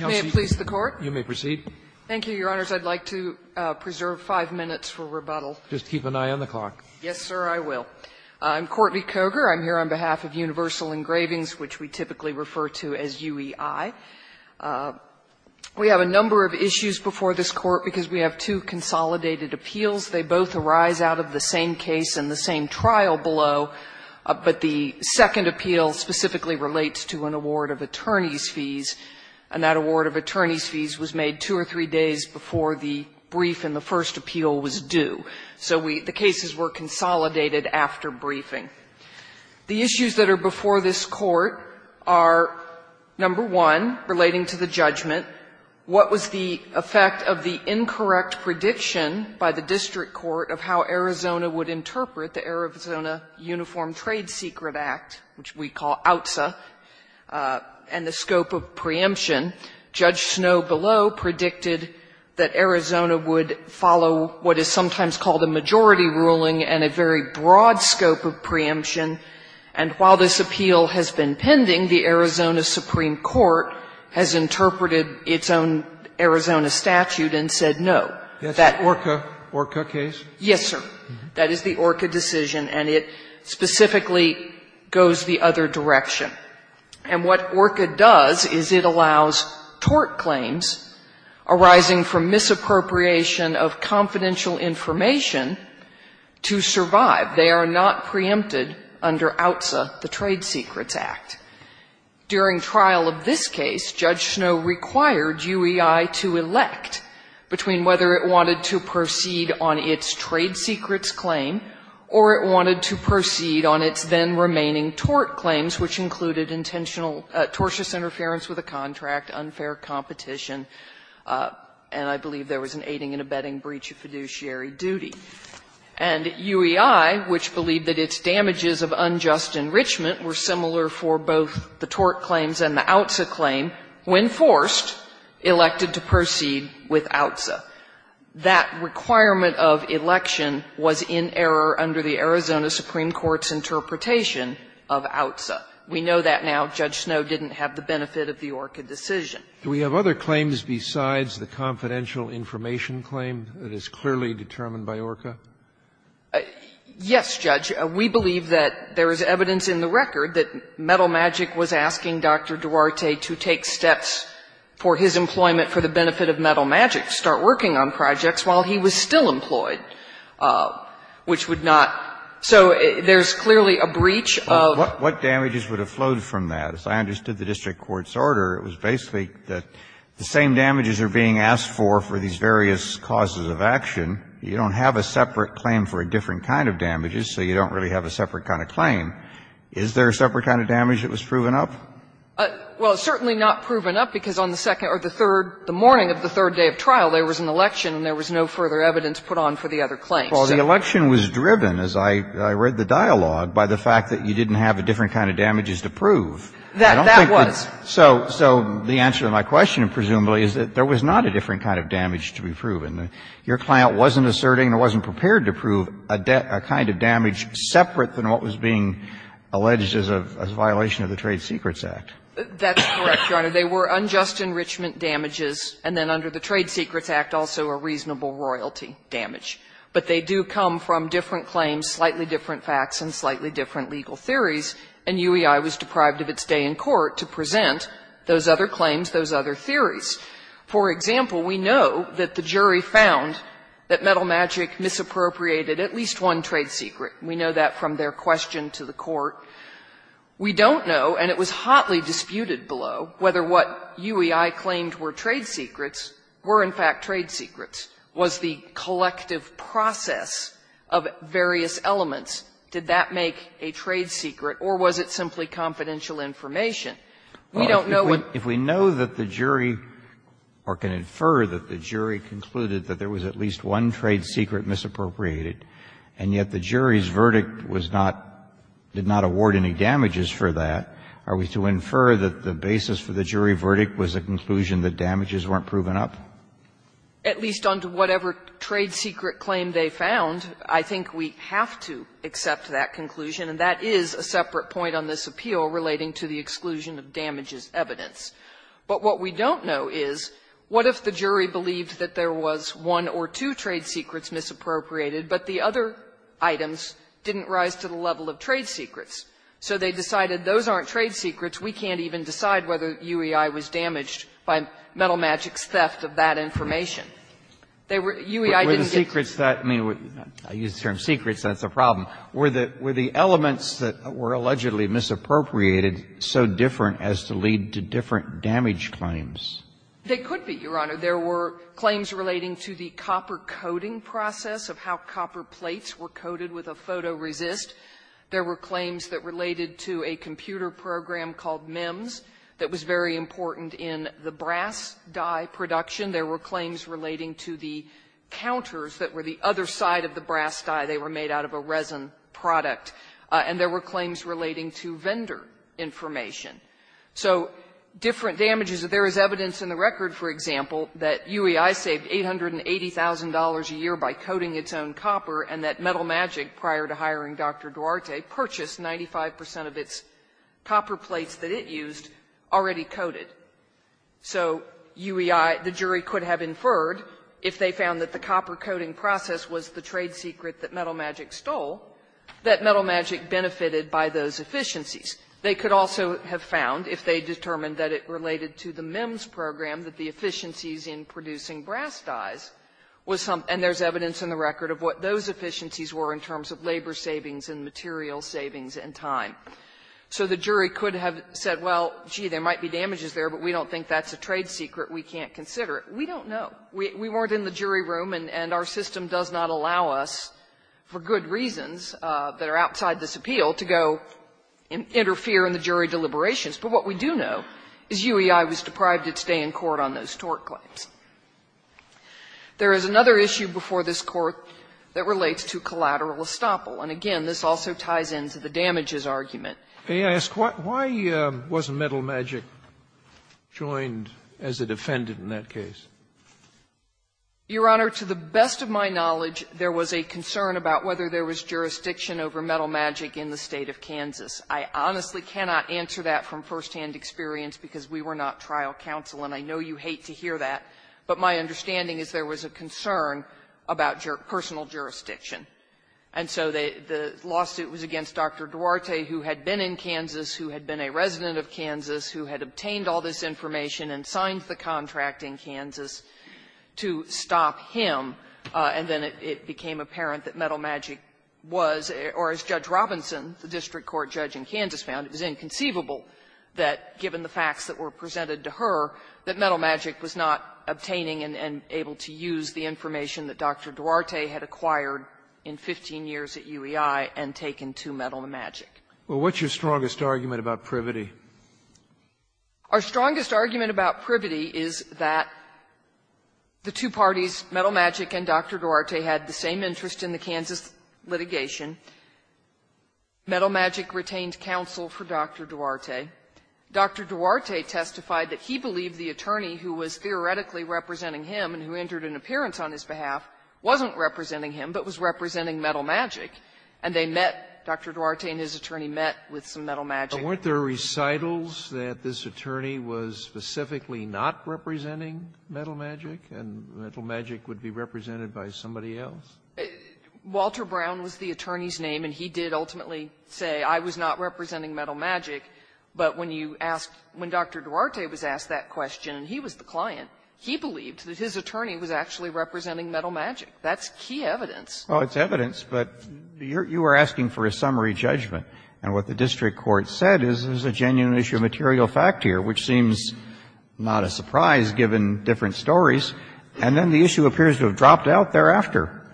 May it please the Court. You may proceed. Thank you, Your Honors. I'd like to preserve five minutes for rebuttal. Just keep an eye on the clock. Yes, sir, I will. I'm Courtney Koger. I'm here on behalf of Universal Engravings, which we typically refer to as UEI. We have a number of issues before this Court because we have two consolidated appeals. They both arise out of the same case and the same trial below, but the second appeal specifically relates to an award of attorney's fees, and that award of attorney's fees was made two or three days before the brief in the first appeal was due. So we the cases were consolidated after briefing. The issues that are before this Court are, number one, relating to the judgment. What was the effect of the incorrect prediction by the district court of how Arizona would interpret the Arizona Uniform Trade Secret Act, which we call OUTSA, and the scope of preemption? Judge Snow below predicted that Arizona would follow what is sometimes called a majority ruling and a very broad scope of preemption, and while this appeal has been pending, the Arizona Supreme Court has interpreted its own Arizona statute and said no. That's an ORCA case? Yes, sir. That is the ORCA decision, and it specifically goes the other direction. And what ORCA does is it allows tort claims arising from misappropriation of confidential information to survive. They are not preempted under OUTSA, the Trade Secrets Act. During trial of this case, Judge Snow required UEI to elect between whether it wanted to proceed on its trade secrets claim or it wanted to proceed on its then-remaining tort claims, which included tortuous interference with a contract, unfair competition, and I believe there was an aiding and abetting breach of fiduciary duty. And UEI, which believed that its damages of unjust enrichment were similar for both the tort claims and the OUTSA claim, when forced, elected to proceed with OUTSA. That requirement of election was in error under the Arizona Supreme Court's interpretation of OUTSA. We know that now. Judge Snow didn't have the benefit of the ORCA decision. Do we have other claims besides the confidential information claim that is clearly determined by ORCA? Yes, Judge. We believe that there is evidence in the record that Metal Magic was asking Dr. Duarte to take steps for his employment for the benefit of Metal Magic, start working on projects while he was still employed, which would not so there is clearly a breach of. What damages would have flowed from that? As I understood the district court's order, it was basically that the same damages are being asked for for these various causes of action. You don't have a separate claim for a different kind of damages, so you don't really have a separate kind of claim. Is there a separate kind of damage that was proven up? Well, it's certainly not proven up, because on the second or the third, the morning of the third day of trial, there was an election and there was no further evidence put on for the other claims. Well, the election was driven, as I read the dialogue, by the fact that you didn't have a different kind of damages to prove. That was. So the answer to my question, presumably, is that there was not a different kind of damage to be proven. Your client wasn't asserting or wasn't prepared to prove a kind of damage separate from what was being alleged as a violation of the Trade Secrets Act. That's correct, Your Honor. They were unjust enrichment damages, and then under the Trade Secrets Act also a reasonable royalty damage. But they do come from different claims, slightly different facts, and slightly different legal theories, and UEI was deprived of its day in court to present those other claims, those other theories. For example, we know that the jury found that Metal Magic misappropriated at least one trade secret. We know that from their question to the court. We don't know, and it was hotly disputed below, whether what UEI claimed were trade secrets were in fact trade secrets. Was the collective process of various elements, did that make a trade secret, or was it simply confidential information? We don't know what. If we know that the jury, or can infer that the jury concluded that there was at least one trade secret misappropriated, and yet the jury's verdict was not, did not award any damages for that, are we to infer that the basis for the jury verdict was a conclusion that damages weren't proven up? At least under whatever trade secret claim they found, I think we have to accept that conclusion, and that is a separate point on this appeal relating to the exclusion of damages evidence. But what we don't know is, what if the jury believed that there was one or two trade secrets misappropriated, but the other items didn't rise to the level of trade secrets? So they decided those aren't trade secrets, we can't even decide whether UEI was damaged by Metal Magic's theft of that information. They were UEI didn't get to the level of trade secrets, so that's a problem. Were the elements that were allegedly misappropriated so different as to lead to different damage claims? They could be, Your Honor. There were claims relating to the copper coating process of how copper plates were coated with a photoresist. There were claims that related to a computer program called MEMS that was very important in the brass die production. There were claims relating to the counters that were the other side of the brass die. They were made out of a resin product. And there were claims relating to vendor information. So different damages. There is evidence in the record, for example, that UEI saved $880,000 a year by coating its own copper, and that Metal Magic, prior to hiring Dr. Duarte, purchased 95 percent of its copper plates that it used already coated. So UEI, the jury could have inferred, if they found that the copper coating process was the trade secret that Metal Magic stole, that Metal Magic benefited by those efficiencies. They could also have found, if they determined that it related to the MEMS program, that the efficiencies in producing brass dies was some of them, and there's evidence in the record of what those efficiencies were in terms of labor savings and material savings in time. So the jury could have said, well, gee, there might be damages there, but we don't think that's a trade secret. We can't consider it. We don't know. We weren't in the jury room, and our system does not allow us, for good reasons that are outside this appeal, to go interfere in the jury deliberations. But what we do know is UEI was deprived its day in court on those tort claims. There is another issue before this Court that relates to collateral estoppel. And again, this also ties into the damages argument. Scalia. Why was Metal Magic joined as a defendant in that case? Your Honor, to the best of my knowledge, there was a concern about whether there was jurisdiction over Metal Magic in the State of Kansas. I honestly cannot answer that from firsthand experience, because we were not trial counsel, and I know you hate to hear that. But my understanding is there was a concern about personal jurisdiction. And so the lawsuit was against Dr. Duarte, who had been in Kansas, who had been a resident of Kansas, who had obtained all this information and signed the contract in Kansas to stop him, and then it became apparent that Metal Magic was or, as Judge Robinson, the district court judge in Kansas found, it was inconceivable that, given the facts that were presented to her, that Metal Magic was not obtaining and able to use the information that Dr. Duarte had acquired in 15 years at UEI and taken to Metal Magic. Well, what's your strongest argument about Privity? Our strongest argument about Privity is that the two parties, Metal Magic and Dr. Duarte, had the same interest in the Kansas litigation. Metal Magic retained counsel for Dr. Duarte. Dr. Duarte testified that he believed the attorney who was theoretically representing him and who entered an appearance on his behalf wasn't representing him, but was representing Metal Magic. And they met, Dr. Duarte and his attorney met with some Metal Magic. Weren't there recitals that this attorney was specifically not representing Metal Magic, and Metal Magic would be represented by somebody else? Walter Brown was the attorney's name, and he did ultimately say, I was not representing Metal Magic, but when you asked, when Dr. Duarte was asked that question, and he was the client, he believed that his attorney was actually representing Metal Magic. That's key evidence. Well, it's evidence, but you are asking for a summary judgment. And what the district court said is there's a genuine issue of material fact here, which seems not a surprise, given different stories, and then the issue appears to have dropped out thereafter.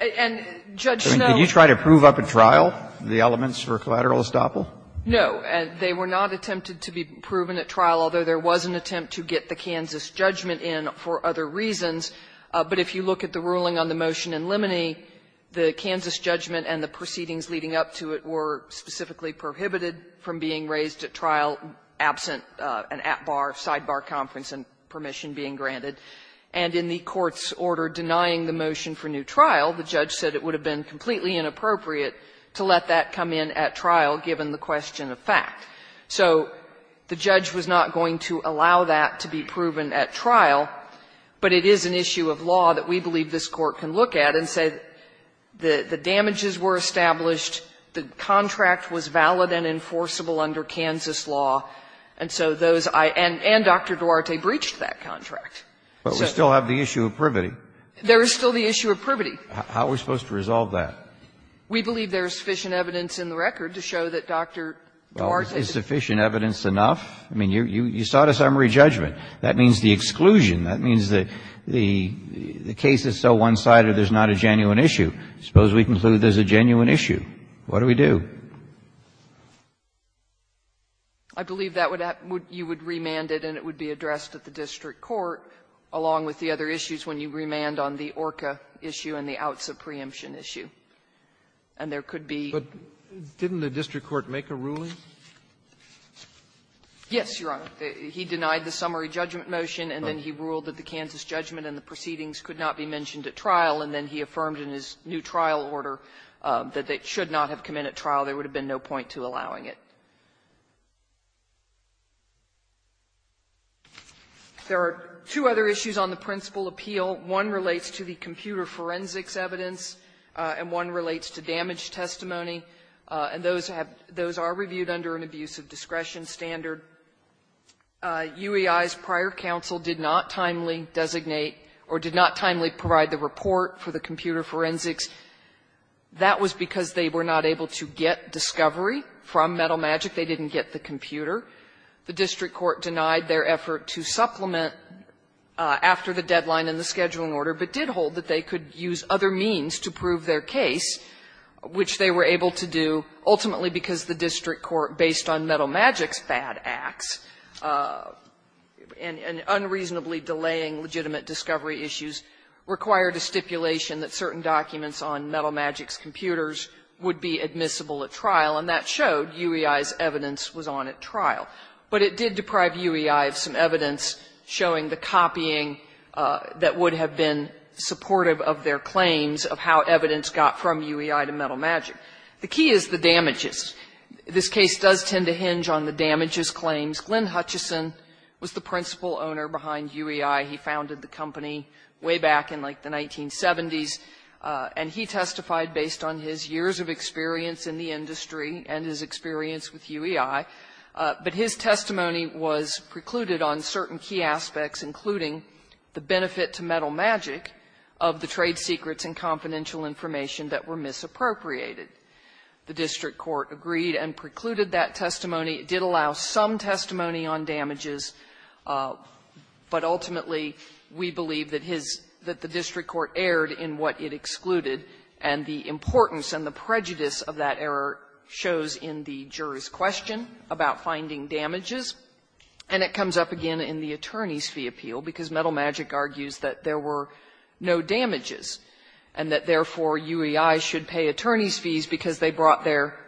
And, Judge, no. Can you try to prove up at trial the elements for collateral estoppel? No. They were not attempted to be proven at trial, although there was an attempt to get the Kansas judgment in for other reasons. But if you look at the ruling on the motion in Limoney, the Kansas judgment and the motion specifically prohibited from being raised at trial absent an at-bar, side-bar conference and permission being granted. And in the Court's order denying the motion for new trial, the judge said it would have been completely inappropriate to let that come in at trial, given the question of fact. So the judge was not going to allow that to be proven at trial, but it is an issue of law that we believe this Court can look at and say the damages were established, the contract was valid and enforceable under Kansas law, and so those I and Dr. Duarte breached that contract. But we still have the issue of privity. There is still the issue of privity. How are we supposed to resolve that? We believe there is sufficient evidence in the record to show that Dr. Duarte Well, is sufficient evidence enough? I mean, you sought a summary judgment. That means the exclusion. That means the case is so one-sided there's not a genuine issue. Suppose we conclude there's a genuine issue. What do we do? I believe that would happen. You would remand it and it would be addressed at the district court, along with the other issues when you remand on the ORCA issue and the outs of preemption issue. And there could be But didn't the district court make a ruling? Yes, Your Honor. He denied the summary judgment motion and then he ruled that the Kansas judgment and the proceedings could not be mentioned at trial, and then he affirmed in his new There are two other issues on the principal appeal. One relates to the computer forensics evidence, and one relates to damage testimony. And those have those are reviewed under an abuse of discretion standard. UEI's prior counsel did not timely designate or did not timely provide the report for the computer forensics. That was because they were not able to get discovery from Metal Magic. They didn't get the computer. The district court denied their effort to supplement after the deadline in the scheduling order, but did hold that they could use other means to prove their case, which they were able to do, ultimately because the district court, based on Metal Magic's bad acts and unreasonably delaying legitimate discovery issues, required a stipulation that certain documents on Metal Magic's computers would be admissible at trial, and that showed UEI's evidence was on at trial. But it did deprive UEI of some evidence showing the copying that would have been supportive of their claims of how evidence got from UEI to Metal Magic. The key is the damages. This case does tend to hinge on the damages claims. Glenn Hutchison was the principal owner behind UEI. He founded the company way back in, like, the 1970s, and he testified based on his years of experience in the industry and his experience with UEI. But his testimony was precluded on certain key aspects, including the benefit to Metal Magic of the trade secrets and confidential information that were misappropriated. The district court agreed and precluded that testimony. It did allow some testimony on damages, but ultimately, we believe that his — that the district court erred in what it excluded, and the importance and the prejudice of that error shows in the juror's question about finding damages. And it comes up again in the attorney's fee appeal, because Metal Magic argues that there were no damages, and that, therefore, UEI should pay attorney's fees for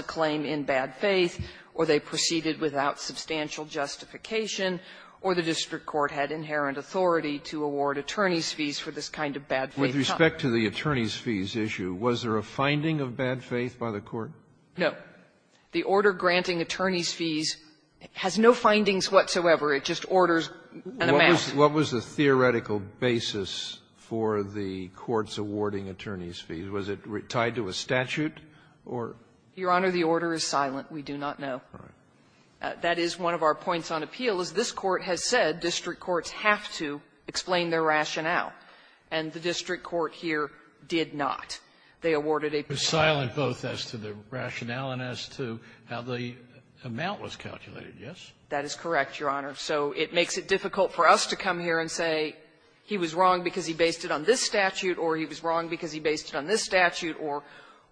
a claim in bad faith, or they proceeded without substantial justification, or the district court had inherent authority to award attorney's fees for this kind of bad faith. Sotomayor, with respect to the attorney's fees issue, was there a finding of bad faith by the court? No. The order granting attorney's fees has no findings whatsoever. It just orders an amassment. What was the theoretical basis for the court's awarding attorney's fees? Was it tied to a statute or? Your Honor, the order is silent. We do not know. That is one of our points on appeal, is this Court has said district courts have to explain their rationale, and the district court here did not. They awarded a perjury. It was silent both as to the rationale and as to how the amount was calculated, yes? That is correct, Your Honor. So it makes it difficult for us to come here and say he was wrong because he based it on this statute, or he was wrong because he based it on this statute, or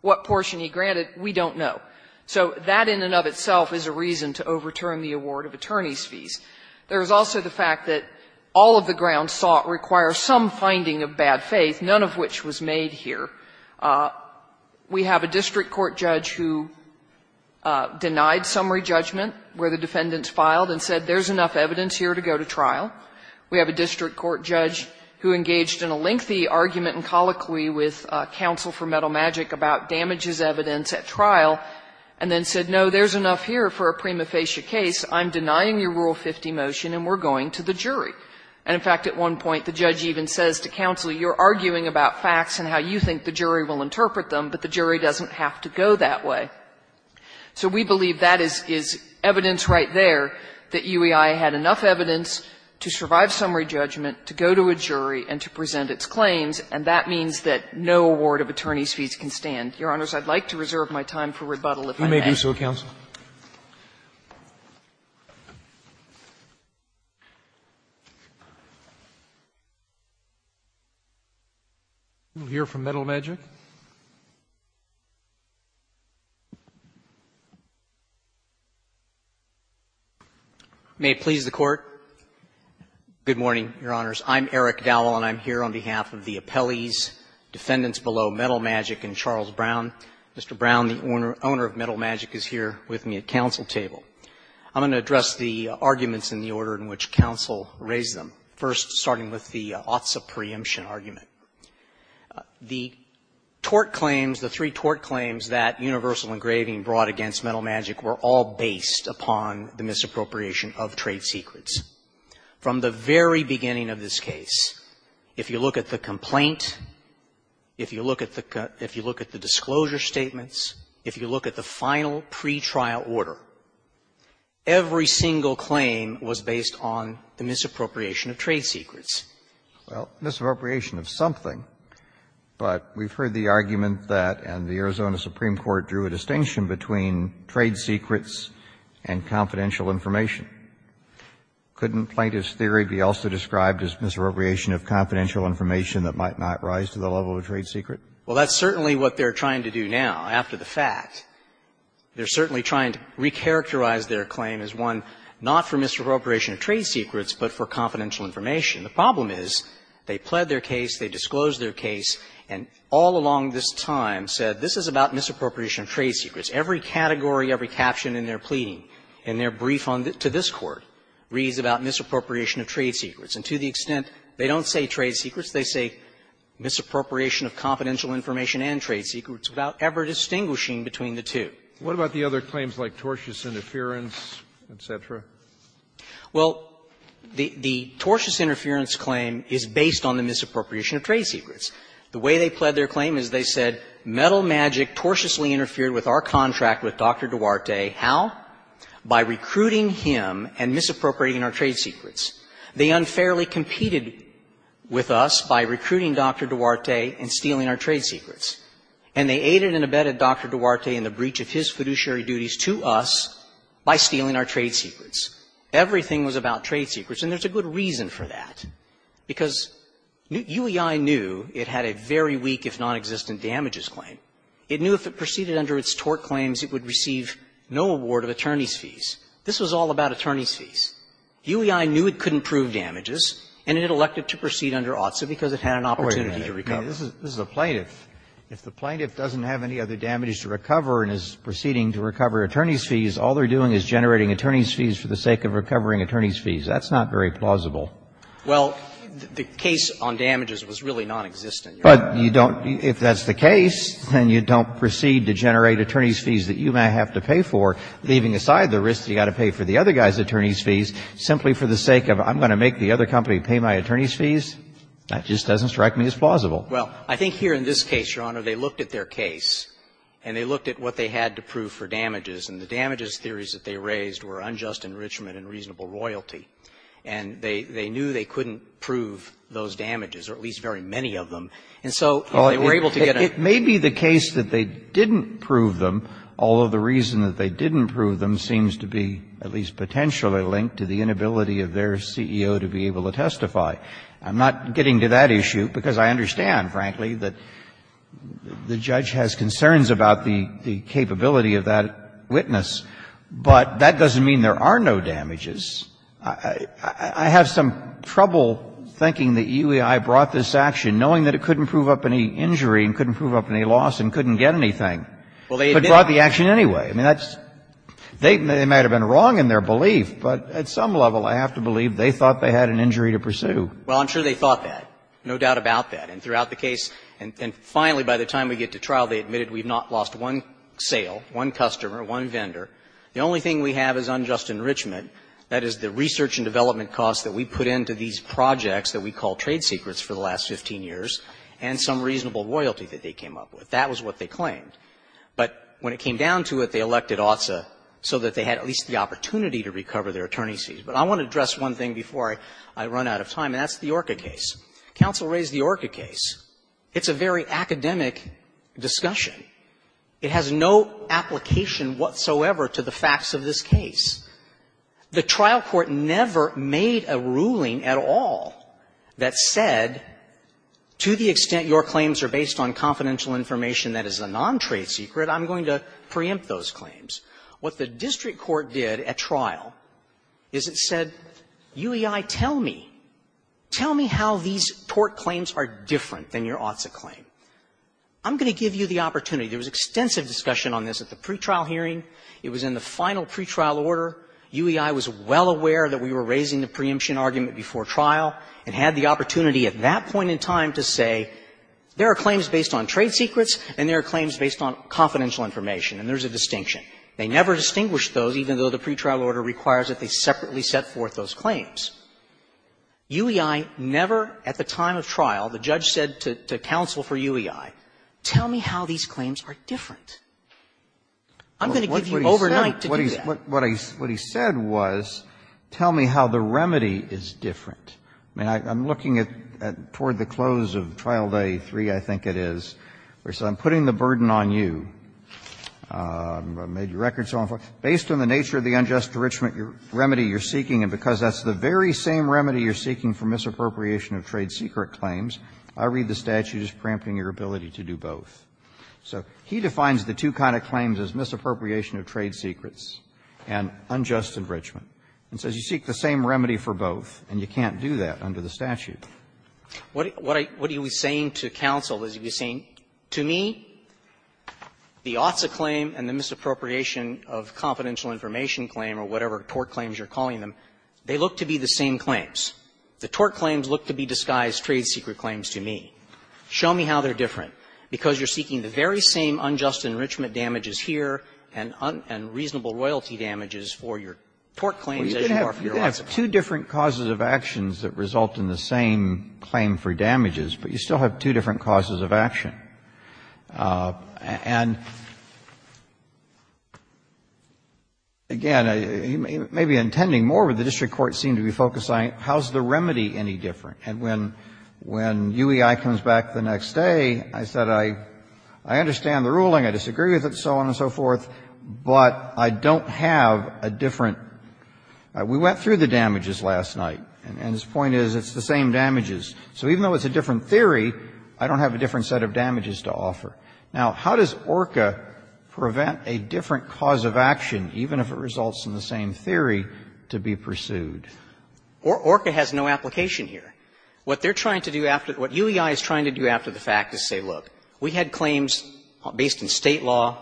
what proportion he granted, we don't know. So that in and of itself is a reason to overturn the award of attorney's fees. There is also the fact that all of the grounds sought require some finding of bad faith, none of which was made here. We have a district court judge who denied summary judgment where the defendants filed and said there is enough evidence here to go to trial. We have a district court judge who engaged in a lengthy argument and colloquy with counsel for Metal Magic about damages evidence at trial, and then said, no, there is enough here for a prima facie case. I'm denying your Rule 50 motion, and we're going to the jury. And, in fact, at one point, the judge even says to counsel, you're arguing about facts and how you think the jury will interpret them, but the jury doesn't have to go that way. So we believe that is evidence right there, that UEI had enough evidence to survive summary judgment, to go to a jury, and to present its claims, and that means that no award of attorney's fees can stand. Your Honors, I'd like to reserve my time for rebuttal if I may. Roberts. You may do so, counsel. We'll hear from Metal Magic. May it please the Court. Good morning, Your Honors. I'm Eric Dowell, and I'm here on behalf of the appellees, defendants below Metal Magic and Charles Brown. Mr. Brown, the owner of Metal Magic, is here with me at counsel table. I'm going to address the arguments in the order in which counsel raised them, first starting with the Otza preemption argument. The tort claims, the three tort claims that Universal Engraving brought against Metal Magic were all based upon the misappropriation of trade secrets. From the very beginning of this case, if you look at the complaint, if you look at the disclosure statements, if you look at the final pretrial order, every single claim was based on the misappropriation of trade secrets. Well, misappropriation of something, but we've heard the argument that, and the Arizona Supreme Court drew a distinction between trade secrets and confidential information. Couldn't plaintiff's theory be also described as misappropriation of confidential information that might not rise to the level of trade secret? Well, that's certainly what they're trying to do now, after the fact. They're certainly trying to recharacterize their claim as one not for misappropriation of trade secrets, but for confidential information. The problem is, they pled their case, they disclosed their case, and all along this time said, this is about misappropriation of trade secrets. Every category, every caption in their pleading, in their brief to this Court, reads about misappropriation of trade secrets. And to the extent they don't say trade secrets, they say misappropriation of confidential information and trade secrets without ever distinguishing between the two. What about the other claims like tortuous interference, et cetera? Well, the tortuous interference claim is based on the misappropriation of trade secrets. The way they pled their claim is they said, Metal Magic tortiously interfered with our contract with Dr. Duarte. How? By recruiting him and misappropriating our trade secrets. They unfairly competed with us by recruiting Dr. Duarte and stealing our trade secrets. And they aided and abetted Dr. Duarte in the breach of his fiduciary duties to us by stealing our trade secrets. Everything was about trade secrets, and there's a good reason for that. Because UEI knew it had a very weak, if nonexistent, damages claim. It knew if it proceeded under its tort claims, it would receive no award of attorneys' fees. This was all about attorneys' fees. UEI knew it couldn't prove damages, and it elected to proceed under OTSA because it had an opportunity to recover. Kennedy, this is a plaintiff. If the plaintiff doesn't have any other damages to recover and is proceeding to recover attorneys' fees, all they're doing is generating attorneys' fees for the sake of recovering attorneys' fees. That's not very plausible. Well, the case on damages was really nonexistent, Your Honor. But you don't be – if that's the case, then you don't proceed to generate attorneys' fees that you may have to pay for, leaving aside the risk that you've got to pay for the other guy's attorneys' fees, simply for the sake of I'm going to make the other company pay my attorneys' fees. That just doesn't strike me as plausible. Well, I think here in this case, Your Honor, they looked at their case, and they looked at what they had to prove for damages, and the damages theories that they raised were unjust enrichment and reasonable royalty. And they knew they couldn't prove those damages, or at least very many of them. And so if they were able to get a – Well, it may be the case that they didn't prove them, although the reason that they didn't prove them seems to be at least potentially linked to the inability of their CEO to be able to testify. I'm not getting to that issue, because I understand, frankly, that the judge has concerns about the capability of that witness. But that doesn't mean there are no damages. I have some trouble thinking that UEI brought this action, knowing that it couldn't prove up any injury and couldn't prove up any loss and couldn't get anything, but brought the action anyway. I mean, that's – they might have been wrong in their belief, but at some level, I have to believe they thought they had an injury to pursue. Well, I'm sure they thought that, no doubt about that. And throughout the case, and finally by the time we get to trial, they admitted we've not lost one sale, one customer, one vendor. The only thing we have is unjust enrichment, that is, the research and development costs that we put into these projects that we call trade secrets for the last 15 years, and some reasonable loyalty that they came up with. That was what they claimed. But when it came down to it, they elected OTSA so that they had at least the opportunity to recover their attorney's fees. But I want to address one thing before I run out of time, and that's the ORCA case. Counsel raised the ORCA case. It's a very academic discussion. It has no application whatsoever to the facts of this case. The trial court never made a ruling at all that said, to the extent your claims are based on confidential information that is a non-trade secret, I'm going to preempt those claims. What the district court did at trial is it said, UEI, tell me, tell me how these tort claims are different than your OTSA claim. I'm going to give you the opportunity. There was extensive discussion on this at the pretrial hearing. It was in the final pretrial order. UEI was well aware that we were raising the preemption argument before trial and had the opportunity at that point in time to say, there are claims based on trade secrets and there are claims based on confidential information, and there's a distinction. They never distinguished those, even though the pretrial order requires that they separately set forth those claims. UEI never, at the time of trial, the judge said to counsel for UEI, tell me how these claims are different. I'm going to give you overnight to do that. Kennedy, what he said was, tell me how the remedy is different. I mean, I'm looking at toward the close of trial day three, I think it is, where it says, I'm putting the burden on you. I made your record so on and so forth. Based on the nature of the unjust enrichment remedy you're seeking, and because that's the very same remedy you're seeking for misappropriation of trade secret claims, I read the statute as preempting your ability to do both. So he defines the two kind of claims as misappropriation of trade secrets and unjust enrichment, and says you seek the same remedy for both, and you can't do that under the statute. What I was saying to counsel is he was saying, to me, the OTSA claim and the misappropriation of confidential information claim or whatever tort claims you're calling them, they look to be the same claims. The tort claims look to be disguised trade secret claims to me. Show me how they're different, because you're seeking the very same unjust enrichment damages here and reasonable royalty damages for your tort claims as you are for your OTSA claims. Kennedy, you can have two different causes of actions that result in the same claim for damages, but you still have two different causes of action. And, again, he may be intending more, but the district court seemed to be focusing on how is the remedy any different. And when UEI comes back the next day, I said, I understand the ruling, I disagree with it, so on and so forth, but I don't have a different we went through the damages last night, and his point is it's the same damages. So even though it's a different theory, I don't have a different set of damages to offer. Now, how does ORCA prevent a different cause of action, even if it results in the same theory, to be pursued? ORCA has no application here. What they're trying to do after the fact, what UEI is trying to do after the fact is say, look, we had claims based in State law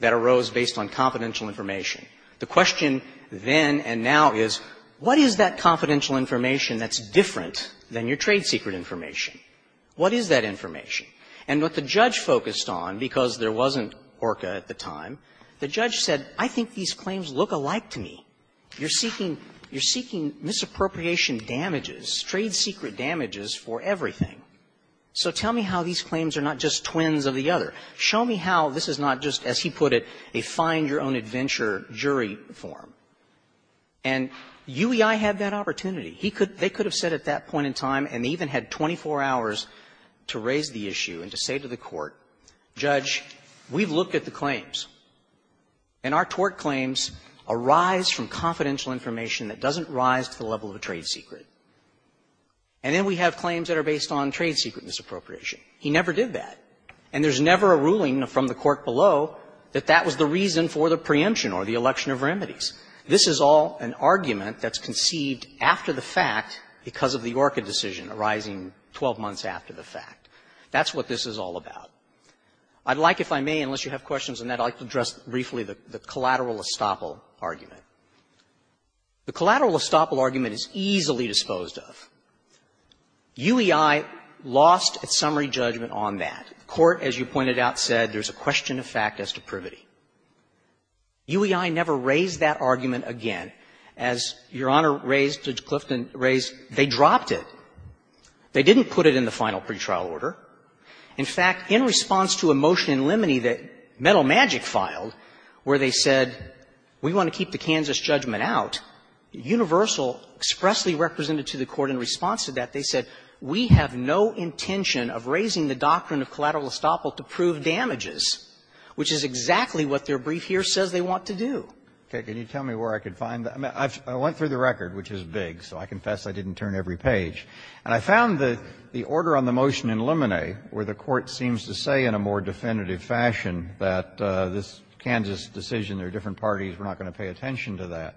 that arose based on confidential information. The question then and now is, what is that confidential information that's different than your trade secret information? What is that information? And what the judge focused on, because there wasn't ORCA at the time, the judge said, I think these claims look alike to me. You're seeking you're seeking misappropriation damages, trade secret damages for everything. So tell me how these claims are not just twins of the other. Show me how this is not just, as he put it, a find-your-own-adventure jury form. And UEI had that opportunity. He could they could have said at that point in time, and they even had 24 hours to raise the issue and to say to the court, Judge, we've looked at the claims, and our tort claims arise from confidential information that doesn't rise to the level of a trade secret. And then we have claims that are based on trade secret misappropriation. He never did that. And there's never a ruling from the court below that that was the reason for the preemption or the election of remedies. This is all an argument that's conceived after the fact because of the ORCA decision arising 12 months after the fact. That's what this is all about. I'd like, if I may, unless you have questions on that, I'd like to address briefly the collateral estoppel argument. The collateral estoppel argument is easily disposed of. UEI lost its summary judgment on that. The court, as you pointed out, said there's a question of fact as to privity. UEI never raised that argument again. As Your Honor raised, Judge Clifton raised, they dropped it. They didn't put it in the final pretrial order. In fact, in response to a motion in Limoney that Metal Magic filed where they said we want to keep the Kansas judgment out, Universal expressly represented to the court in response to that, they said, we have no intention of raising the doctrine of collateral estoppel to prove damages, which is exactly what their brief here says they want to do. Can you tell me where I could find that? I went through the record, which is big, so I confess I didn't turn every page. And I found the order on the motion in Limoney where the court seems to say in a more definitive fashion that this Kansas decision, there are different parties, we're not going to pay attention to that.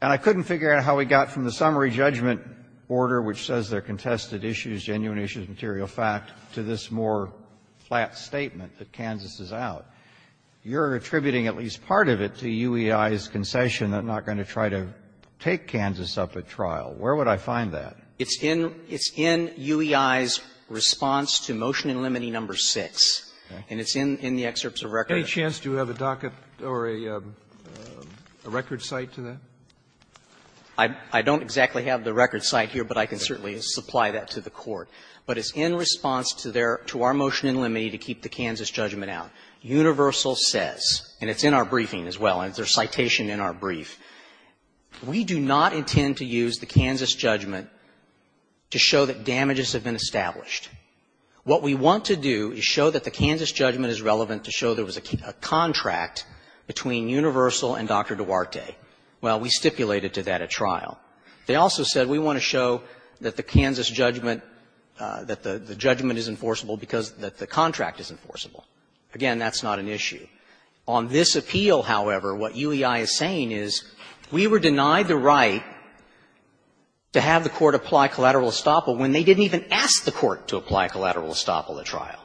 And I couldn't figure out how we got from the summary judgment order, which says there are contested issues, genuine issues, material fact, to this more flat statement that Kansas is out. You're attributing at least part of it to UEI's concession that I'm not going to try to take Kansas up at trial. Where would I find that? It's in UEI's response to motion in Limoney number 6, and it's in the excerpts of record. Any chance to have a docket or a record cite to that? I don't exactly have the record cite here, but I can certainly supply that to the court. But it's in response to their to our motion in Limoney to keep the Kansas judgment out. Universal says, and it's in our briefing as well, and there's citation in our brief, we do not intend to use the Kansas judgment to show that damages have been established. What we want to do is show that the Kansas judgment is relevant to show there was a contract between Universal and Dr. Duarte. Well, we stipulated to that at trial. They also said we want to show that the Kansas judgment, that the judgment is enforceable because the contract is enforceable. Again, that's not an issue. On this appeal, however, what UEI is saying is we were denied the right to have the court apply collateral estoppel when they didn't even ask the court to apply collateral estoppel at trial.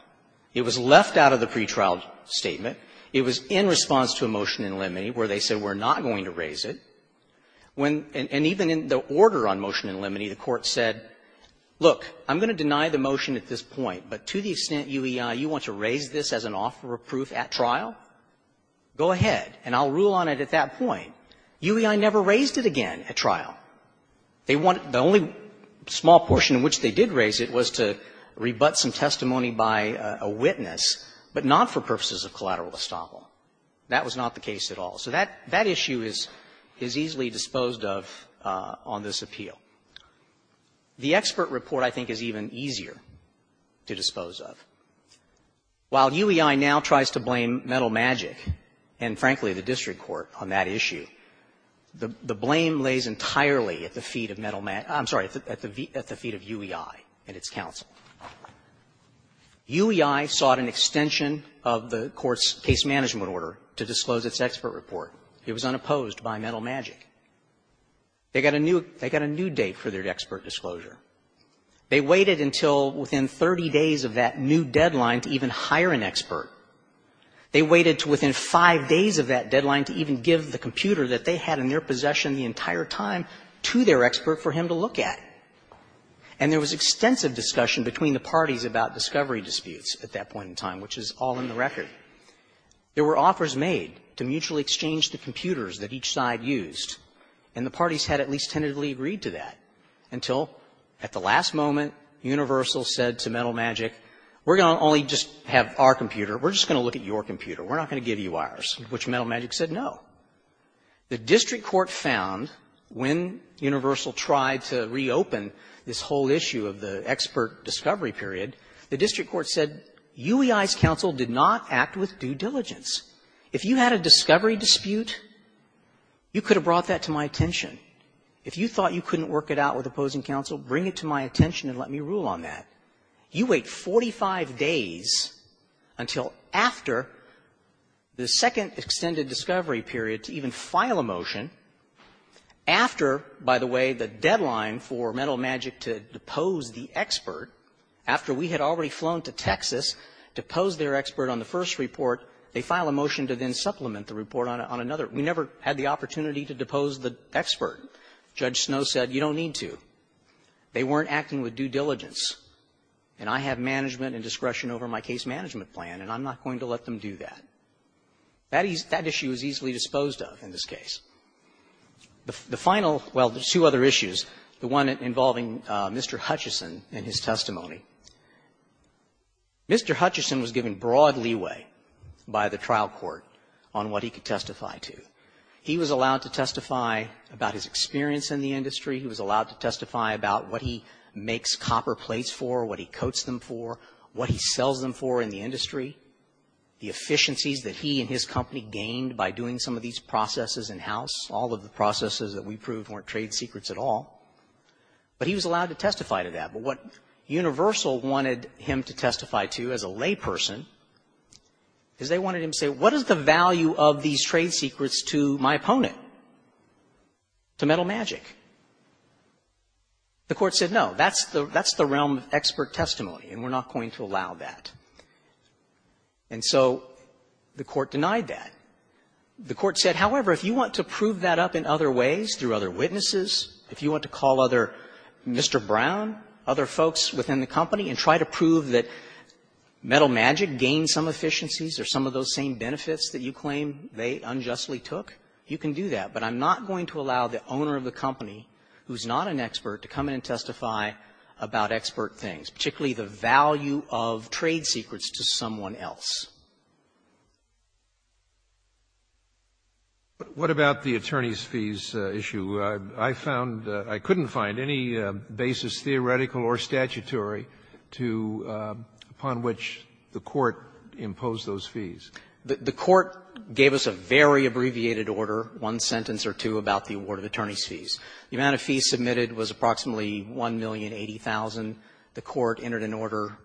It was left out of the pretrial statement. It was in response to a motion in Limoney where they said we're not going to raise it. When and even in the order on motion in Limoney, the court said, look, I'm going to deny the motion at this point, but to the extent UEI, you want to raise this as an offer of proof at trial, go ahead, and I'll rule on it at that point. UEI never raised it again at trial. They want the only small portion in which they did raise it was to rebut some testimony by a witness, but not for purposes of collateral estoppel. That was not the case at all. So that issue is easily disposed of on this appeal. The expert report, I think, is even easier to dispose of. While UEI now tries to blame Metal Magic and, frankly, the district court on that issue, the blame lays entirely at the feet of Metal Magic – I'm sorry, at the feet of UEI and its counsel. UEI sought an extension of the court's case management order to disclose its expert report. It was unopposed by Metal Magic. They got a new date for their expert disclosure. They waited until within 30 days of that new deadline to even hire an expert. They waited to within five days of that deadline to even give the computer that they had in their possession the entire time to their expert for him to look at. And there was extensive discussion between the parties about discovery disputes at that point in time, which is all in the record. There were offers made to mutually exchange the computers that each side used, and the parties had at least tentatively agreed to that, until at the last moment Universal said to Metal Magic, we're going to only just have our computer, we're just going to look at your computer, we're not going to give you ours, which Metal Magic said no. The district court found, when Universal tried to reopen this whole issue of the expert discovery period, the district court said, UEI's counsel did not act with due diligence. If you had a discovery dispute, you could have brought that to my attention. If you thought you couldn't work it out with opposing counsel, bring it to my attention and let me rule on that. You wait 45 days until after the second extended discovery period to even file a motion after, by the way, the deadline for Metal Magic to depose the expert, after we had already flown to Texas to pose their expert on the first report, they file a motion to then supplement the report on another. We never had the opportunity to depose the expert. Judge Snow said, you don't need to. They weren't acting with due diligence. And I have management and discretion over my case management plan, and I'm not going to let them do that. That issue is easily disposed of in this case. The final, well, there's two other issues, the one involving Mr. Hutchison and his testimony. Mr. Hutchison was given broad leeway by the trial court on what he could testify to. He was allowed to testify about his experience in the industry. He was allowed to testify about what he makes copper plates for, what he coats them for, what he sells them for in the industry, the efficiencies that he and his company gained by doing some of these processes in-house. All of the processes that we proved weren't trade secrets at all, but he was allowed to testify to that. But what Universal wanted him to testify to as a layperson is they wanted him to say, what is the value of these trade secrets to my opponent, to Metal Magic? The court said, no, that's the realm of expert testimony, and we're not going to allow that. And so the court denied that. The court said, however, if you want to prove that up in other ways, through other witnesses, if you want to call other, Mr. Brown, other folks within the company and try to prove that Metal Magic gained some efficiencies or some of those same benefits that you claim they unjustly took, you can do that. But I'm not going to allow the owner of the company, who's not an expert, to come in and testify about expert things, particularly the value of trade secrets to someone else. Sotomayor, what about the attorney's fees issue? I found that I couldn't find any basis, theoretical or statutory, to upon which the court imposed those fees. The court gave us a very abbreviated order, one sentence or two, about the award of attorney's fees. The amount of fees submitted was approximately 1,080,000. The court entered an order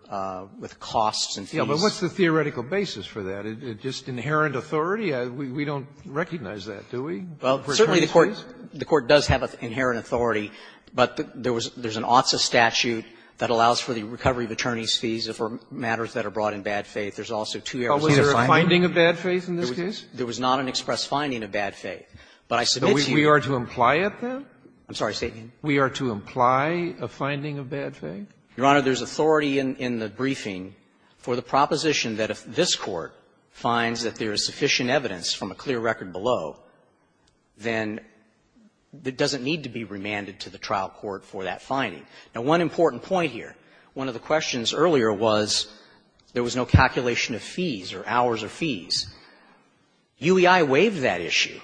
with costs and fees. Yes, but what's the theoretical basis for that? Just inherent authority? We don't recognize that, do we, for attorney's fees? Well, certainly the court does have inherent authority, but there was an OTSA statute that allows for the recovery of attorney's fees for matters that are brought in bad faith. There's also two errors in the finding. But was there a finding of bad faith in this case? There was not an express finding of bad faith. But I submit to you that the court has the authority to do that. So we are to imply it, then? I'm sorry, State, again? We are to imply a finding of bad faith? Your Honor, there's authority in the briefing for the proposition that if this Court finds that there is sufficient evidence from a clear record below, then it doesn't need to be remanded to the trial court for that finding. Now, one important point here, one of the questions earlier was there was no calculation of fees or hours or fees. UEI waived that issue.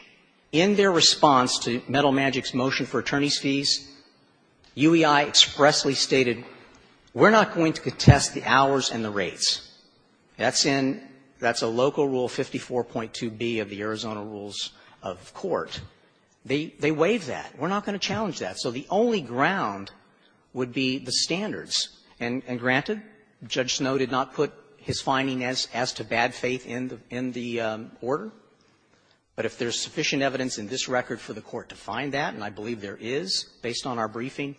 In their response to Metal Magic's motion for attorney's fees, UEI expressly stated, we're not going to contest the hours and the rates. That's in the local rule 54.2b of the Arizona rules of court. They waived that. We're not going to challenge that. So the only ground would be the standards. And granted, Judge Snowe did not put his finding as to bad faith in the order. But if there's sufficient evidence in this record for the Court to find that, and I believe there is, based on our briefing,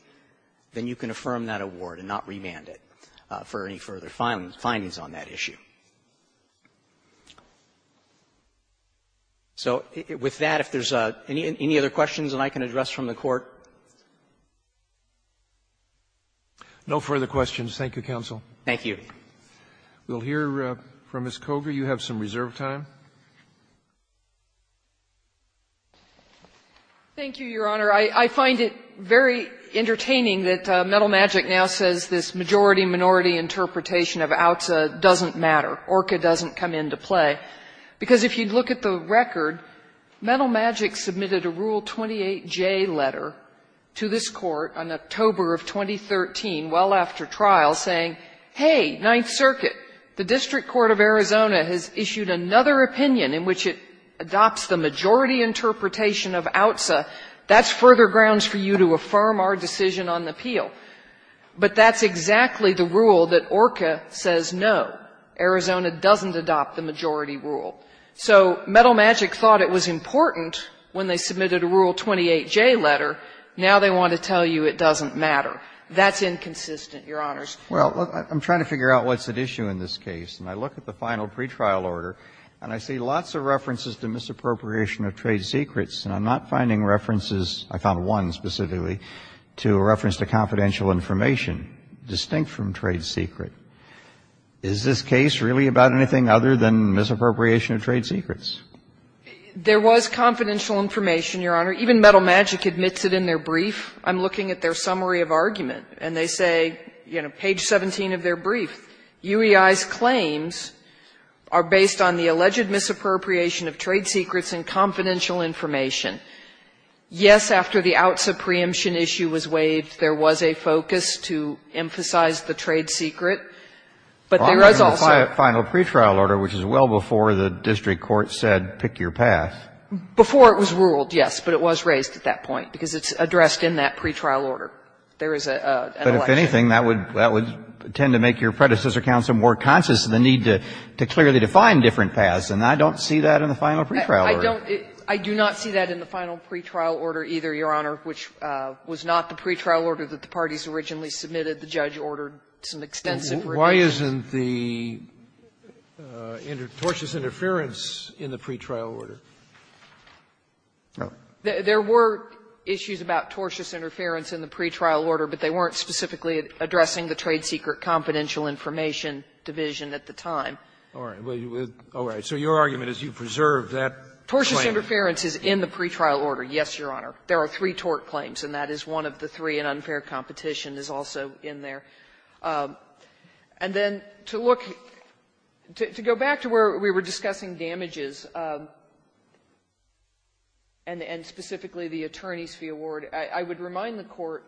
then you can affirm that award and not remand it for any further findings on that issue. So with that, if there's any other questions that I can address from the Court? No further questions. Thank you, counsel. Thank you. We'll hear from Ms. Kogar. You have some reserve time. Thank you, Your Honor. I find it very entertaining that Metal Magic now says this majority-minority interpretation of OUTSA doesn't matter. ORCA doesn't come into play, because if you look at the record, Metal Magic submitted a Rule 28J letter to this Court on October of 2013, well after trial, saying, hey, Ninth Circuit, the District Court of Arizona has issued another opinion in which it adopts the majority interpretation of OUTSA. That's further grounds for you to affirm our decision on the appeal. But that's exactly the rule that ORCA says, no, Arizona doesn't adopt the majority rule. So Metal Magic thought it was important when they submitted a Rule 28J letter. Now they want to tell you it doesn't matter. That's inconsistent, Your Honors. Well, I'm trying to figure out what's at issue in this case. And I look at the final pretrial order, and I see lots of references to misappropriation of trade secrets. And I'm not finding references, I found one specifically, to a reference to confidential information distinct from trade secret. Is this case really about anything other than misappropriation of trade secrets? There was confidential information, Your Honor. Even Metal Magic admits it in their brief. I'm looking at their summary of argument, and they say, you know, page 17 of their brief, UEI's claims are based on the alleged misappropriation of trade secrets and confidential information. Yes, after the OUTSA preemption issue was waived, there was a focus to emphasize the trade secret, but there was also the final pretrial order, which is well before the district court said pick your path. Before it was ruled, yes, but it was raised at that point, because it's addressed in that pretrial order. There is an election. But if anything, that would tend to make your predecessor counsel more conscious of the need to clearly define different paths, and I don't see that in the final pretrial order. I don't see that in the final pretrial order either, Your Honor, which was not the some extensive review. Sotomayor, why isn't the tortuous interference in the pretrial order? There were issues about tortuous interference in the pretrial order, but they weren't specifically addressing the trade secret confidential information division at the time. All right. So your argument is you preserve that claim. Tortious interference is in the pretrial order, yes, Your Honor. There are three tort claims, and that is one of the three, and unfair competition is also in there. And then to look to go back to where we were discussing damages, and specifically the attorney's fee award, I would remind the Court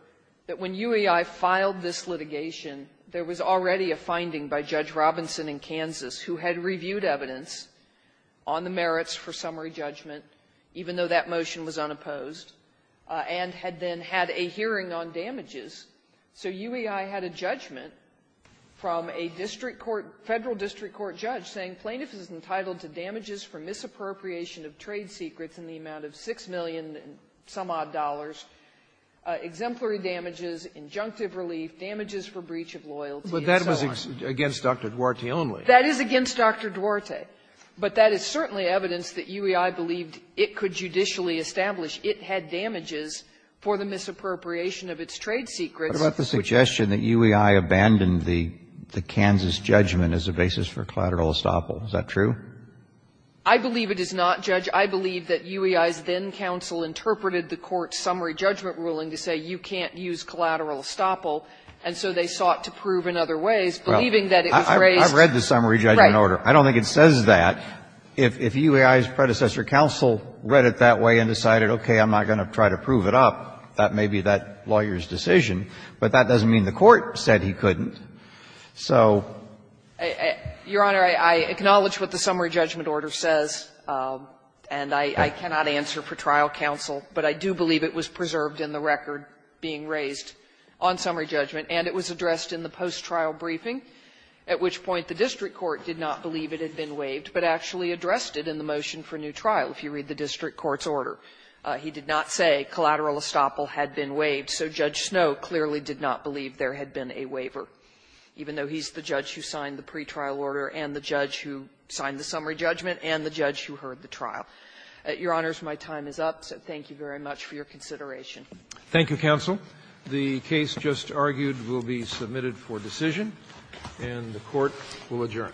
that when UEI filed this litigation, there was already a finding by Judge Robinson in Kansas who had reviewed evidence on the merits for summary judgment, even though that motion was unopposed, and had then had a hearing on damages. So UEI had a judgment from a district court, Federal district court judge, saying plaintiff is entitled to damages for misappropriation of trade secrets in the amount of $6 million-some-odd dollars, exemplary damages, injunctive relief, damages for breach of loyalty, and so on. But that was against Dr. Duarte only. That is against Dr. Duarte. But that is certainly evidence that UEI believed it could judicially establish. It had damages for the misappropriation of its trade secrets. Kennedy. What about the suggestion that UEI abandoned the Kansas judgment as a basis for collateral estoppel? Is that true? I believe it is not, Judge. I believe that UEI's then counsel interpreted the Court's summary judgment ruling to say you can't use collateral estoppel, and so they sought to prove in other ways, believing that it was raised. I've read the summary judgment order. I don't think it says that. If UEI's predecessor counsel read it that way and decided, okay, I'm not going to try to prove it up, that may be that lawyer's decision, but that doesn't mean the Court said he couldn't. So the court said he couldn't. Your Honor, I acknowledge what the summary judgment order says, and I cannot answer for trial counsel, but I do believe it was preserved in the record being raised on summary judgment, and it was addressed in the post-trial briefing, at which point the district court did not believe it had been waived, but actually addressed it in the motion for new trial, if you read the district court's order. He did not say collateral estoppel had been waived, so Judge Snowe clearly did not believe there had been a waiver, even though he's the judge who signed the pretrial order and the judge who signed the summary judgment and the judge who heard the trial. Your Honors, my time is up, so thank you very much for your consideration. Thank you, counsel. The case just argued will be submitted for decision, and the Court will adjourn.